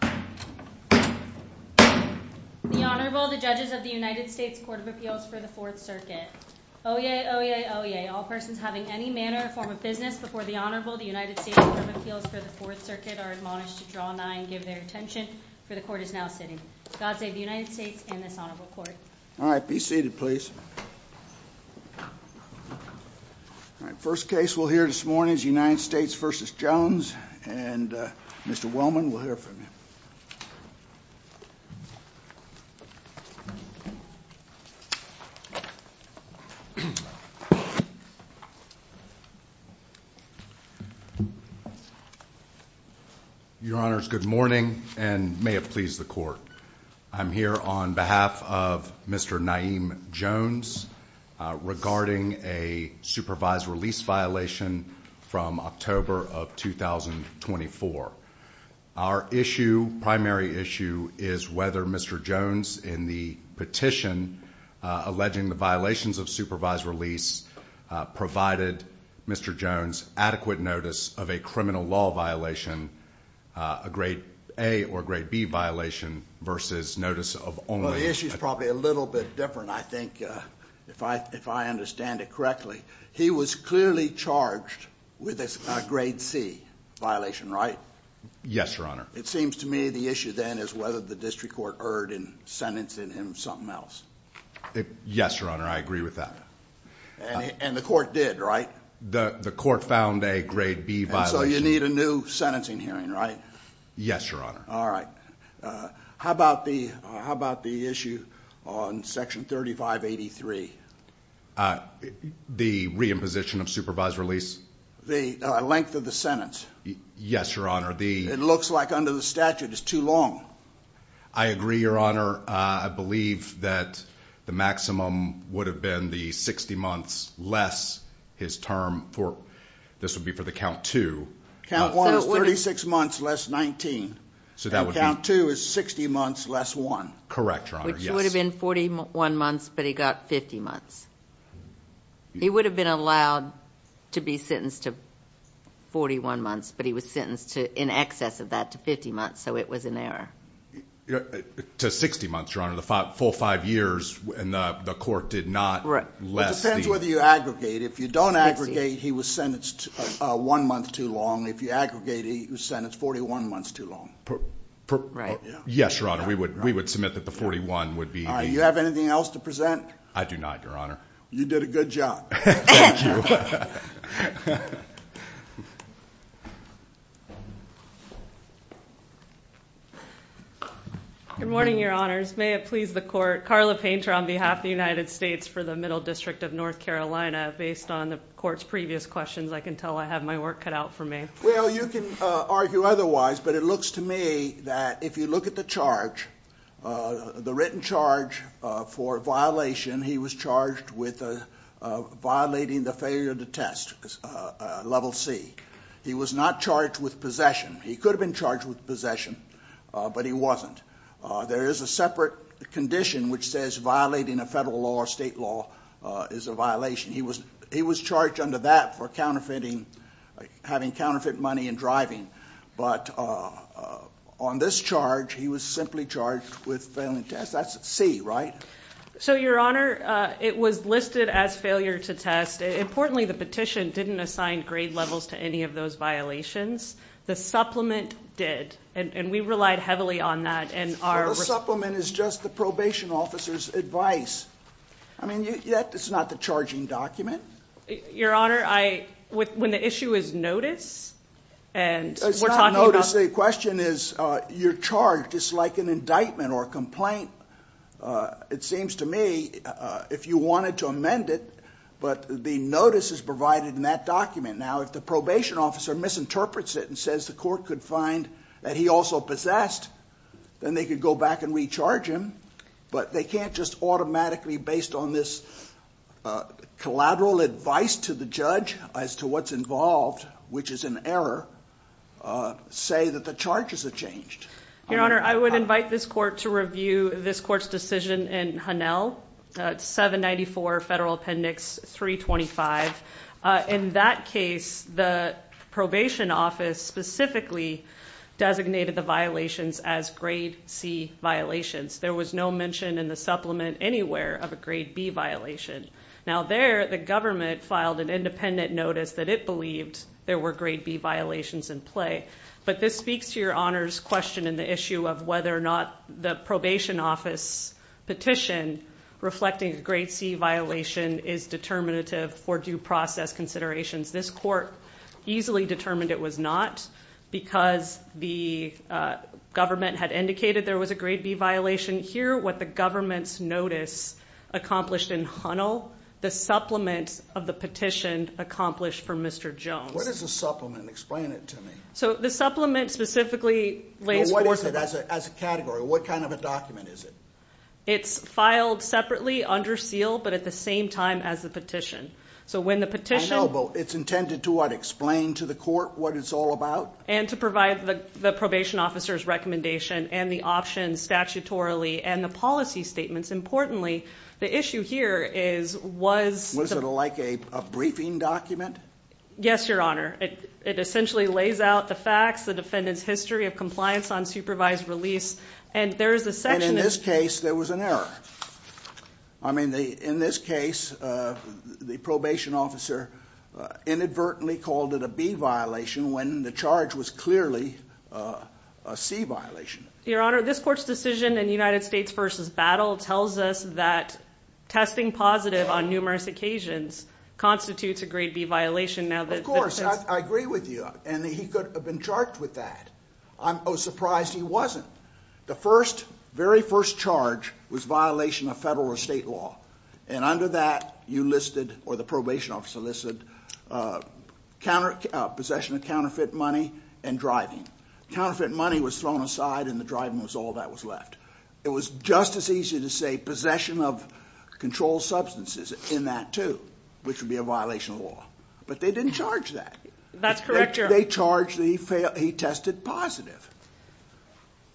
The Honorable, the Judges of the United States Court of Appeals for the Fourth Circuit. Oyez, oyez, oyez. All persons having any manner or form of business before the Honorable, the United States Court of Appeals for the Fourth Circuit are admonished to draw nigh and give their attention for the Court is now sitting. God save the United States and this Honorable Court. All right, be seated please. All right, first case we'll hear this morning is United States v. Jones and Mr. Wellman will hear from you. Your Honors, good morning and may it please the Court. I'm here on behalf of Mr. Naeem Jones regarding a supervised release violation from October of 2024. Our issue, primary issue, is whether Mr. Jones in the petition alleging the violations of supervised release provided Mr. Jones adequate notice of a criminal law violation, a grade A or grade B violation versus notice of only. Well, the issue is probably a little bit different, I think, if I understand it correctly. He was clearly charged with a grade C violation, right? Yes, Your Honor. It seems to me the issue then is whether the district court erred in sentencing him something else. Yes, Your Honor, I agree with that. And the court did, right? The court found a grade B violation. So you need a new sentencing hearing, right? Yes, Your Honor. All right. How about the issue on section 3583? The re-imposition of supervised release? The length of the sentence? Yes, Your Honor. It looks like under the statute it's too long. I agree, Your Honor. I believe that the maximum would have been the 60 months less his term for, this would be for the count two. Count one is 36 months less 19. So that would be. And count two is 60 months less one. Correct, Your Honor, yes. Which would have been 41 months, but he got 50 months. He would have been allowed to be sentenced to 41 months, but he was sentenced to in excess of that to 50 months, so it was an error. To 60 months, Your Honor, the full five years in the court did not less the. It depends whether you aggregate. If you don't aggregate, he was sentenced one month too long. If you aggregate, he was sentenced 41 months too long. Yes, Your Honor, we would submit that the 41 would be. Do you have anything else to present? I do not, Your Honor. You did a good job. Good morning, Your Honors. May it please the court. Carla Painter on behalf of the United States for the Middle District of North Carolina, based on the court's previous questions, I can tell I have my work cut out for me. Well, you can argue otherwise, but it looks to me that if you look at the charge, the written charge for violation, he was charged with violating the failure to test, Level C. He was not charged with possession. He could have been charged with possession, but he wasn't. There is a separate condition which says violating a federal law or state law is a violation. He was charged under that for counterfeiting, having counterfeit money and driving. But on this charge, he was simply charged with failing test. That's C, right? So Your Honor, it was listed as failure to test. Importantly, the petition didn't assign grade levels to any of those violations. The supplement did, and we relied heavily on that. The supplement is just the probation officer's advice. I mean, that's not the charging document. Your Honor, when the issue is notice, and we're talking about... The question is, you're charged, it's like an indictment or a complaint. It seems to me, if you wanted to amend it, but the notice is provided in that document. Now, if the probation officer misinterprets it and says the court could find that he also possessed, then they could go back and recharge him. But they can't just automatically, based on this collateral advice to the judge as to what's involved, which is an error, say that the charges have changed. Your Honor, I would invite this court to review this court's decision in Hanel, 794 Federal Appendix 325. In that case, the probation office specifically designated the violations as grade C violations. There was no mention in the supplement anywhere of a grade B violation. Now there, the government filed an independent notice that it believed there were grade B violations in play. But this speaks to Your Honor's question in the issue of whether or not the probation office petition reflecting a grade C violation is determinative for due process considerations. This court easily determined it was not because the government had indicated there was a grade B violation here. What the government's notice accomplished in Hanel, the supplement of the petition accomplished for Mr. Jones. What is a supplement? Explain it to me. So the supplement specifically lays forth... What is it as a category? What kind of a document is it? It's filed separately under seal, but at the same time as the petition. So when the petition... It's intended to what? Explain to the court what it's all about? And to provide the probation officer's recommendation and the options statutorily and the policy statements. Importantly, the issue here is, was... Was it like a briefing document? Yes, Your Honor. It essentially lays out the facts, the defendant's history of compliance on supervised release. And there is a section... In this case, there was an error. I mean, in this case, the probation officer inadvertently called it a B violation when the charge was clearly a C violation. Your Honor, this court's decision in United States versus Battle tells us that testing positive on numerous occasions constitutes a grade B violation now that... Of course, I agree with you. And he could have been charged with that. I'm surprised he wasn't. The very first charge was violation of federal or state law. And under that, you listed, or the probation officer listed possession of counterfeit money and driving. Counterfeit money was thrown aside and the driving was all that was left. It was just as easy to say possession of controlled substances in that too, which would be a violation of law. But they didn't charge that. That's correct, Your Honor. They charged that he tested positive.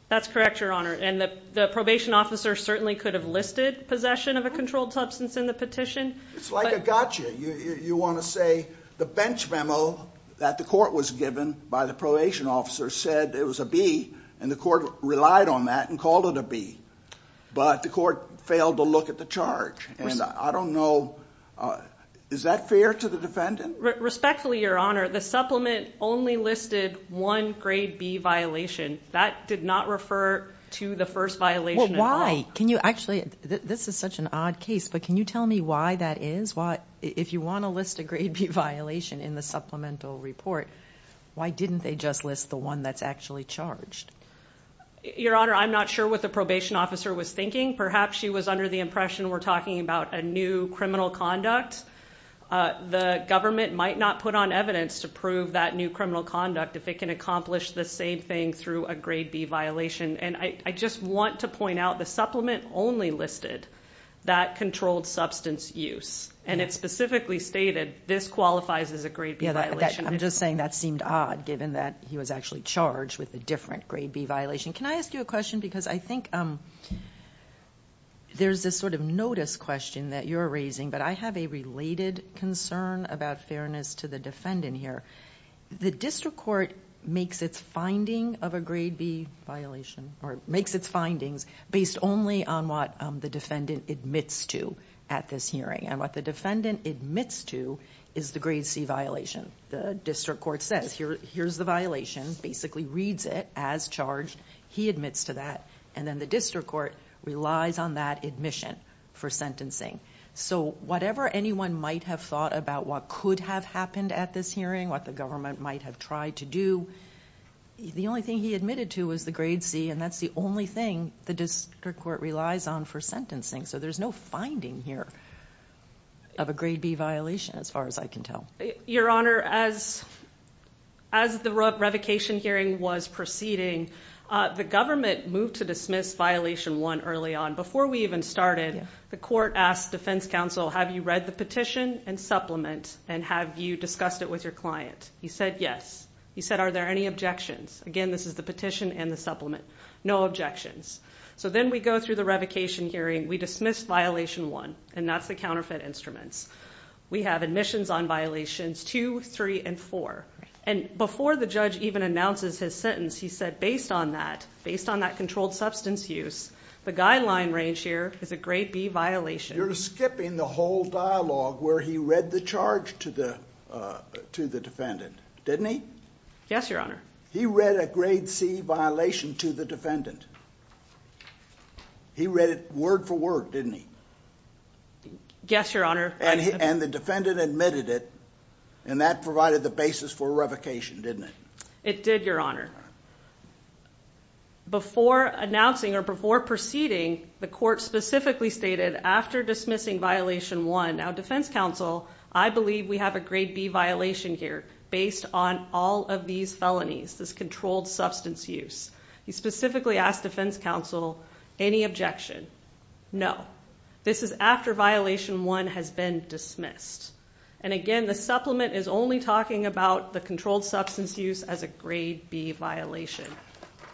That's correct, Your Honor. And the probation officer certainly could have listed possession of a controlled substance in the petition. It's like a gotcha. You want to say the bench memo that the court was given by the probation officer said it was a B, and the court relied on that and called it a B. But the court failed to look at the charge. And I don't know... Is that fair to the defendant? Respectfully, Your Honor, the supplement only listed one grade B violation. That did not refer to the first violation at all. Why? Can you actually... This is such an odd case, but can you tell me why that is? If you want to list a grade B violation in the supplemental report, why didn't they just list the one that's actually charged? Your Honor, I'm not sure what the probation officer was thinking. Perhaps she was under the impression we're talking about a new criminal conduct. The government might not put on evidence to prove that new criminal conduct if it can accomplish the same thing through a grade B violation. And I just want to point out the supplement only listed that controlled substance use. And it specifically stated this qualifies as a grade B violation. I'm just saying that seemed odd, given that he was actually charged with a different grade B violation. Can I ask you a question? Because I think there's this sort of notice question that you're raising, but I have a related concern about fairness to the defendant here. The district court makes its finding of a grade B violation, or makes its findings based only on what the defendant admits to at this hearing. And what the defendant admits to is the grade C violation. The district court says, here's the violation, basically reads it as charged, he admits to that. And then the district court relies on that admission for sentencing. So whatever anyone might have thought about what could have happened at this hearing, what the government might have tried to do, the only thing he admitted to was the grade C, and that's the only thing the district court relies on for sentencing. So there's no finding here of a grade C violation. Your Honor, as the revocation hearing was proceeding, the government moved to dismiss violation one early on. Before we even started, the court asked defense counsel, have you read the petition and supplement, and have you discussed it with your client? He said yes. He said, are there any objections? Again, this is the petition and the supplement, no objections. So then we go through the revocation hearing, we dismiss violation one, and that's the counterfeit instruments. We have admissions on violations two, three, and four. And before the judge even announces his sentence, he said, based on that, based on that controlled substance use, the guideline range here is a grade B violation. You're skipping the whole dialogue where he read the charge to the defendant, didn't he? Yes, Your Honor. He read a grade C violation to the defendant. He read it word for word, didn't he? Yes, Your Honor. And the defendant admitted it, and that provided the basis for revocation, didn't it? It did, Your Honor. Before announcing or before proceeding, the court specifically stated after dismissing violation one, now defense counsel, I believe we have a grade B violation here based on all of these felonies, this controlled substance use. He specifically asked defense counsel, any objection? No. This is after violation one has been dismissed. And again, the supplement is only talking about the controlled substance use as a grade B violation.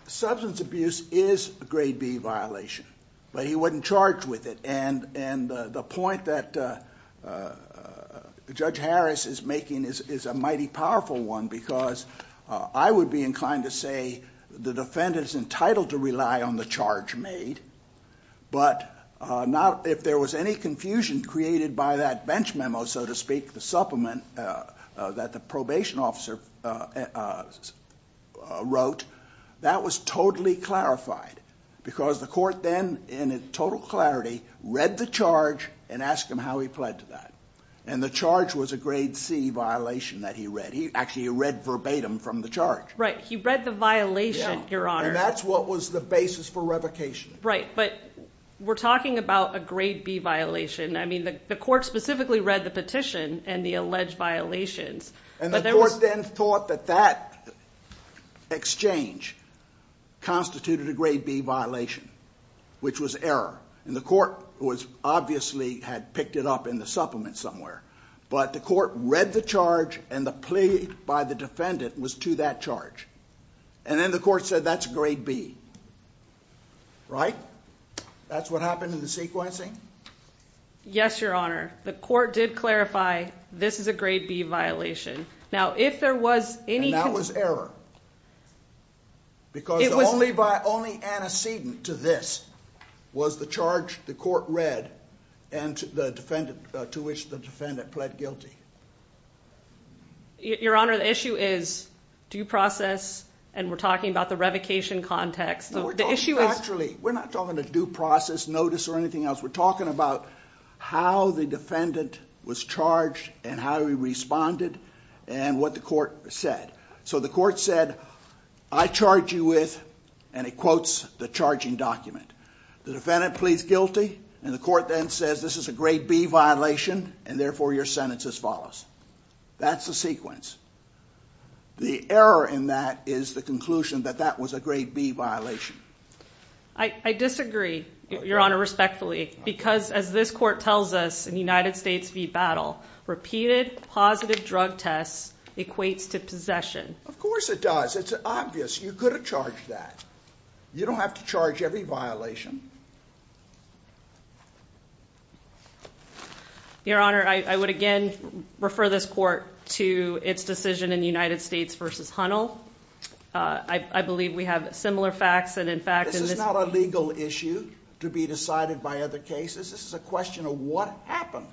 Substance abuse is a grade B violation, but he wasn't charged with it. And the point that Judge Harris is making is a mighty powerful one, because I would be inclined to say the defendant is entitled to rely on the charge made. But if there was any confusion created by that bench memo, so to speak, the supplement that the probation officer wrote, that was totally clarified. Because the court then, in total clarity, read the charge and asked him how he pled to that. And the charge was a grade C violation that he read. He actually read verbatim from the charge. Right. He read the violation, Your Honor. And that's what was the basis for revocation. Right. But we're talking about a grade B violation. I mean, the court specifically read the petition and the alleged violations. And the court then thought that that exchange constituted a grade B violation, which was error. And the court was obviously had picked it up in the supplement somewhere. But the court read the charge and the plea by the defendant was to that charge. And then the court said that's a grade B. Right. That's what happened in the sequencing. Yes, Your Honor. The court did clarify this is a grade B violation. Now, if there was any... And that was error. Because only by only antecedent to this was the charge the court read and the defendant to which the defendant pled guilty. Your Honor, the issue is due process. And we're talking about the revocation context. The issue is... Actually, we're not talking to due process, notice or anything else. We're talking about how the defendant was charged and how he responded and what the court said. So the court said, I charge you with, and it quotes the charging document. The defendant pleads guilty and the court then says, this is a grade B violation, and therefore your sentence as follows. That's the sequence. The error in that is the conclusion that that was a grade B violation. I disagree, Your Honor, respectfully, because as this court tells us in United States v. Battle, repeated positive drug tests equates to possession. Of course it does. It's obvious. You could have charged that. You don't have to charge every violation. Your Honor, I would again refer this court to its decision in United States v. Hunnell. I believe we have similar facts and in fact... This is not a legal issue to be decided by other cases. This is a question of what happened.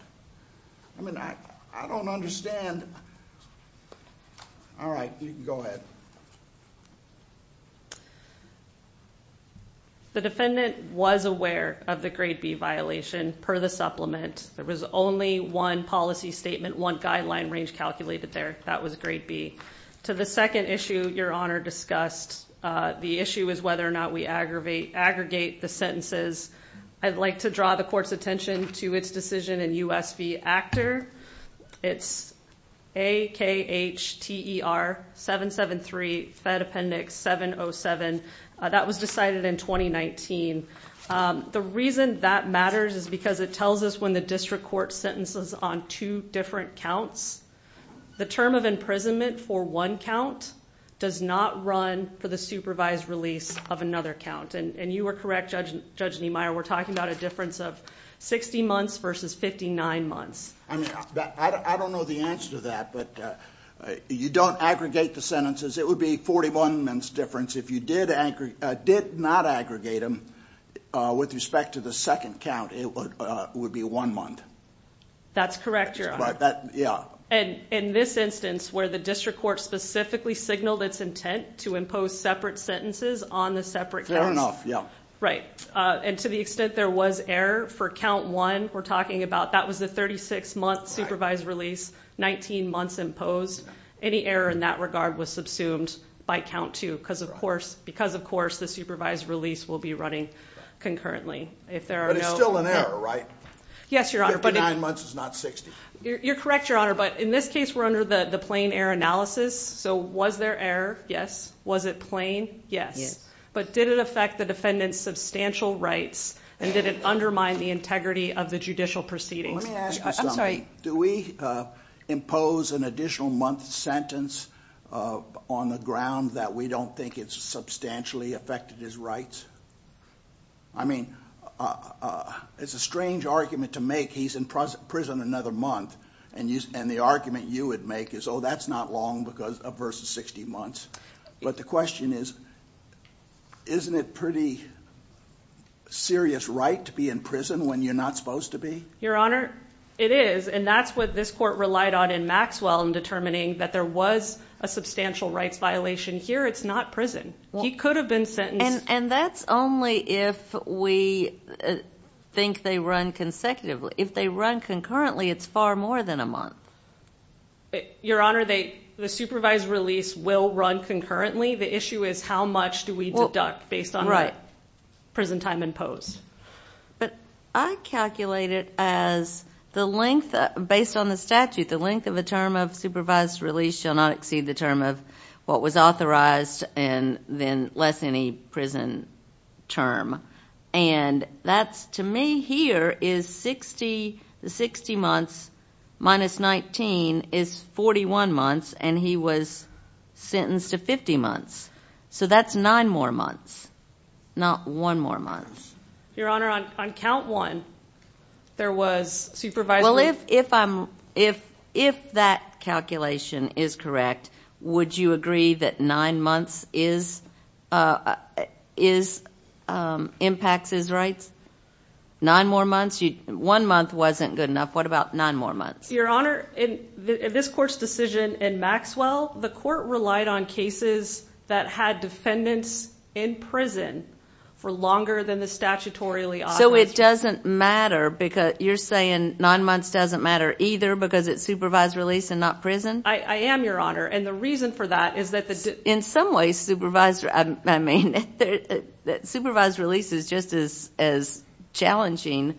I mean, I don't understand. All right, you can go ahead. The defendant was aware of the grade B violation per the supplement. There was only one policy statement, one guideline range calculated there. That was grade B. To the second issue Your Honor discussed, the issue is whether or not we aggregate the sentences. I'd like to draw the court's attention to its decision in U.S. v. Actor. It's A-K-H-T-E-R 773, Fed Appendix 707. That was decided in 2019. The reason that matters is because it tells us when the district court sentences on two different counts, the term of imprisonment for one count does not run for the supervised release of another count. You are correct, Judge Niemeyer, we're talking about a difference of 60 months versus 59 months. I don't know the answer to that, but you don't aggregate the sentences. It would be a 41-month difference. If you did not aggregate them with respect to the second count, it would be one month. That's correct, Your Honor. Yeah. And in this instance where the district court specifically signaled its intent to impose separate sentences on the separate counts. Fair enough, yeah. Right. And to the extent there was error for count one, we're talking about that was the 36-month supervised release, 19 months imposed. Any error in that regard was subsumed by count two because of course the supervised release will be running concurrently. But it's still an error, right? Yes, Your Honor. 59 months is not 60. You're correct, Your Honor. But in this case, we're under the plain error analysis. So was there error? Yes. Was it plain? Yes. But did it affect the defendant's substantial rights and did it undermine the integrity of the judicial proceedings? Let me ask you something. I'm sorry. Do we impose an additional month sentence on the ground that we don't think it's substantially affected his rights? I mean, it's a strange argument to make. He's in prison another month and the argument you would make is, oh, that's not long because of versus 60 months. But the question is, isn't it pretty serious right to be in prison when you're not supposed to be? Your Honor, it is. And that's what this court relied on in Maxwell in determining that there was a substantial rights violation. Here, it's not prison. He could have been sentenced. And that's only if we think they run consecutively. If they run concurrently, it's far more than a month. Your Honor, the supervised release will run concurrently. The issue is how much do we deduct based on prison time imposed? But I calculate it as the length, based on the statute, the length of a term of supervised release shall not exceed the term of what was authorized and then less any prison term. And that's, to me, here is 60 months minus 19 is 41 months. And he was sentenced to 50 months. So that's nine more months, not one more month. Your Honor, on count one, there was supervisory- Well, if that calculation is correct, would you agree that nine months impacts his rights? Nine more months? One month wasn't good enough. What about nine more months? Your Honor, in this court's decision in Maxwell, the court relied on cases that had defendants in prison for longer than the statutorily authorized- So it doesn't matter because you're saying nine months doesn't matter either because it's supervised release and not prison? I am, Your Honor. And the reason for that is that- In some ways, supervised release is just as challenging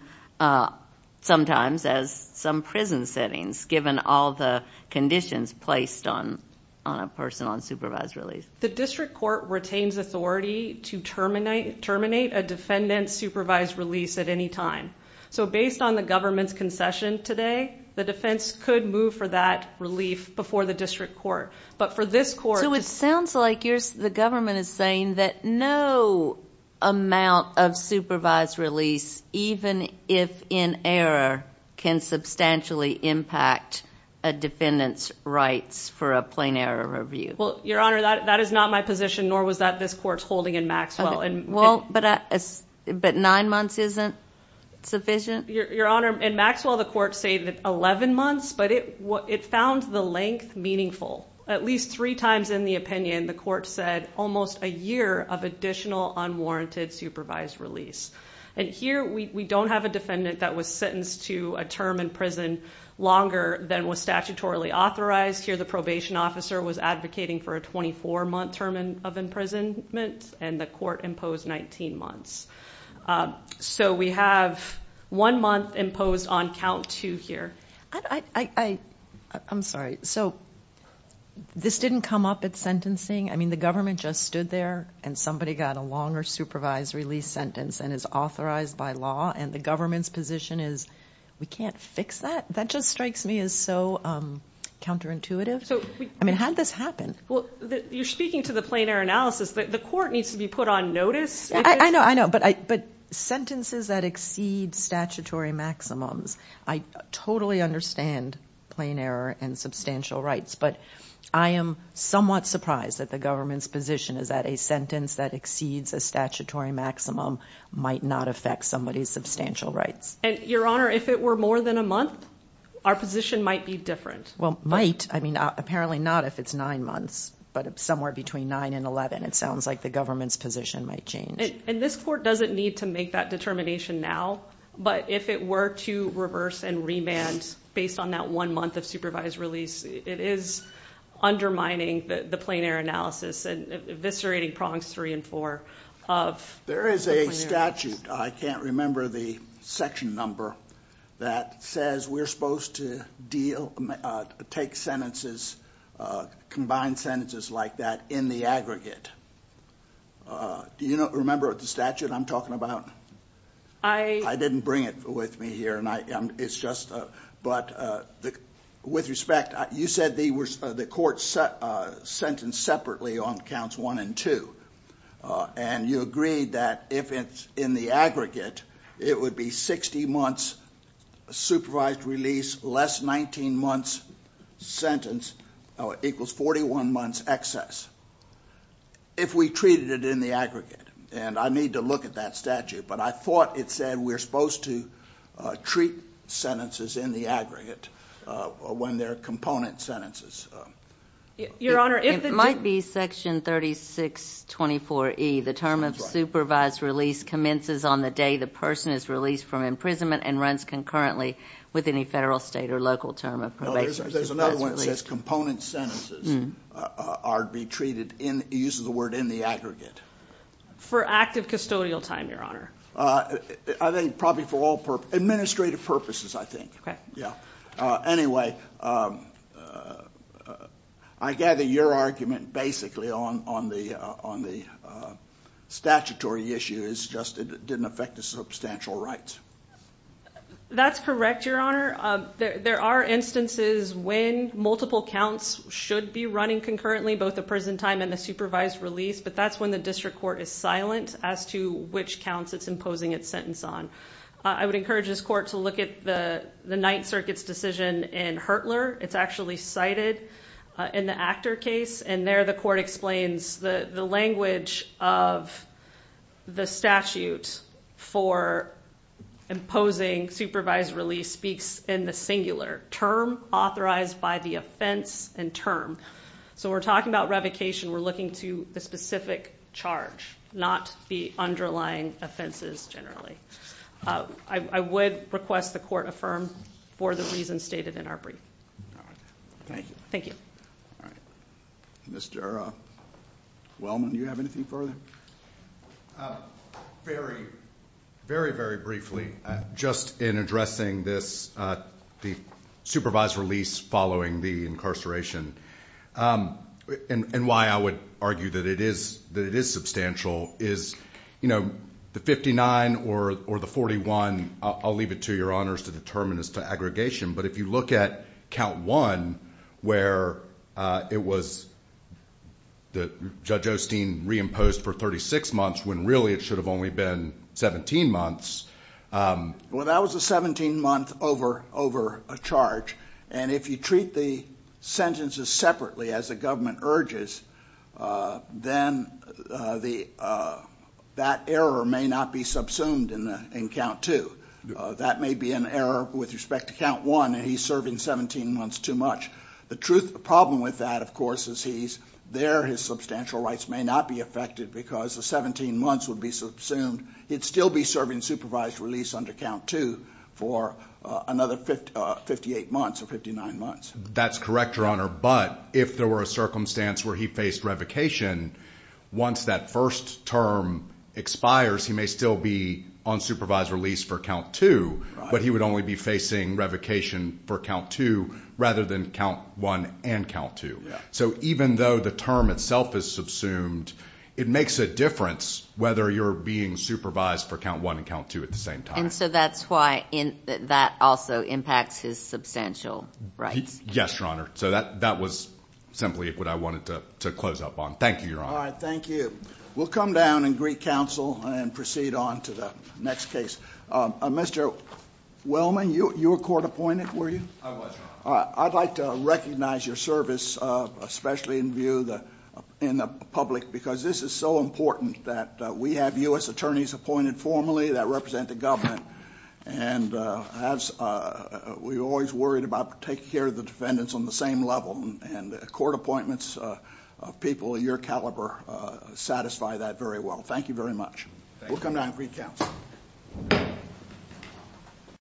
sometimes as some prison settings, given all the conditions placed on a person on supervised release. The district court retains authority to terminate a defendant's supervised release at any time. So based on the government's concession today, the defense could move for that relief before the district court. But for this court- So it sounds like the government is saying that no amount of supervised release, even if in error, can substantially impact a defendant's rights for a plain error review. Well, Your Honor, that is not my position, nor was that this court's holding in Maxwell. But nine months isn't sufficient? Your Honor, in Maxwell, the court said 11 months, but it found the length meaningful. At least three times in the opinion, the court said almost a year of additional unwarranted supervised release. And here, we don't have a defendant that was sentenced to a term in prison longer than was statutorily authorized. Here, the probation officer was advocating for a 24-month term of imprisonment, and the court imposed 19 months. So we have one month imposed on count two here. I'm sorry. So this didn't come up at sentencing? I mean, the government just stood there, and somebody got a longer supervised release sentence and is authorized by law, and the government's position is, we can't fix that? That just strikes me as so counterintuitive. I mean, how did this happen? Well, you're speaking to the plain error analysis. The court needs to be put on notice. I know, I know. But sentences that exceed statutory maximums, I totally understand plain error and substantial rights. But I am somewhat surprised that the government's position is that a sentence that exceeds a statutory maximum might not affect somebody's substantial rights. And Your Honor, if it were more than a month, our position might be different. Well, might. I mean, apparently not if it's nine months, but somewhere between nine and 11, it sounds like the government's position might change. And this court doesn't need to make that determination now, but if it were to reverse and remand based on that one month of supervised release, it is undermining the plain error analysis and eviscerating prongs three and four of the plain error analysis. There is a statute, I can't remember the section number, that says we're supposed to deal, take sentences, combine sentences like that in the aggregate. Do you remember the statute I'm talking about? I didn't bring it with me here, and it's just, but with respect, you said the court sentenced separately on counts one and two. And you agreed that if it's in the aggregate, it would be 60 months supervised release less 19 months sentence equals 41 months excess. If we treated it in the aggregate, and I need to look at that statute, but I thought it said we're supposed to treat sentences in the aggregate when they're component sentences. Your Honor, it might be section 3624E, the term of supervised release commences on the day the person is released from imprisonment and runs concurrently with any federal, state, or local term of probation. There's another one that says component sentences are to be treated, uses the word, in the aggregate. For active custodial time, Your Honor. I think probably for all administrative purposes, I think. Okay. Yeah. Anyway, I gather your argument basically on the statutory issue is just it didn't affect the substantial rights. That's correct, Your Honor. There are instances when multiple counts should be running concurrently, both the prison time and the supervised release. But that's when the district court is silent as to which counts it's imposing its sentence on. I would encourage this court to look at the Ninth Circuit's decision in Hertler. It's actually cited in the Actor case, and there the court explains the language of the statute for imposing supervised release speaks in the singular, term authorized by the offense and term. We're talking about revocation. We're looking to the specific charge, not the underlying offenses generally. I would request the court affirm for the reasons stated in our brief. Thank you. Thank you. All right. Mr. Wellman, do you have anything further? Very, very, very briefly. Just in addressing this, the supervised release following the incarceration, and why I would argue that it is substantial, is the 59 or the 41, I'll leave it to Your Honors to determine as to aggregation. But if you look at count one, where it was that Judge Osteen reimposed for 36 months, when really it should have only been 17 months. Well, that was a 17-month over a charge. And if you treat the sentences separately, as the government urges, then that error may not be subsumed in count two. That may be an error with respect to count one, and he's serving 17 months too much. The problem with that, of course, is there his substantial rights may not be affected because the 17 months would be subsumed. He'd still be serving supervised release under count two for another 58 months or 59 months. That's correct, Your Honor. But if there were a circumstance where he faced revocation, once that first term expires, he may still be on supervised release for count two, but he would only be facing revocation for count two, rather than count one and count two. So even though the term itself is subsumed, it makes a difference whether you're being supervised for count one and count two at the same time. And so that's why that also impacts his substantial rights. Yes, Your Honor. So that was simply what I wanted to close up on. Thank you, Your Honor. All right. Thank you. We'll come down and greet counsel and proceed on to the next case. Mr. Wellman, you were court appointed, were you? I was, Your Honor. I'd like to recognize your service, especially in the public, because this is so important that we have U.S. attorneys appointed formally that represent the government. And we're always worried about taking care of the defendants on the same level. And court appointments of people of your caliber satisfy that very well. Thank you very much. We'll come down and greet counsel.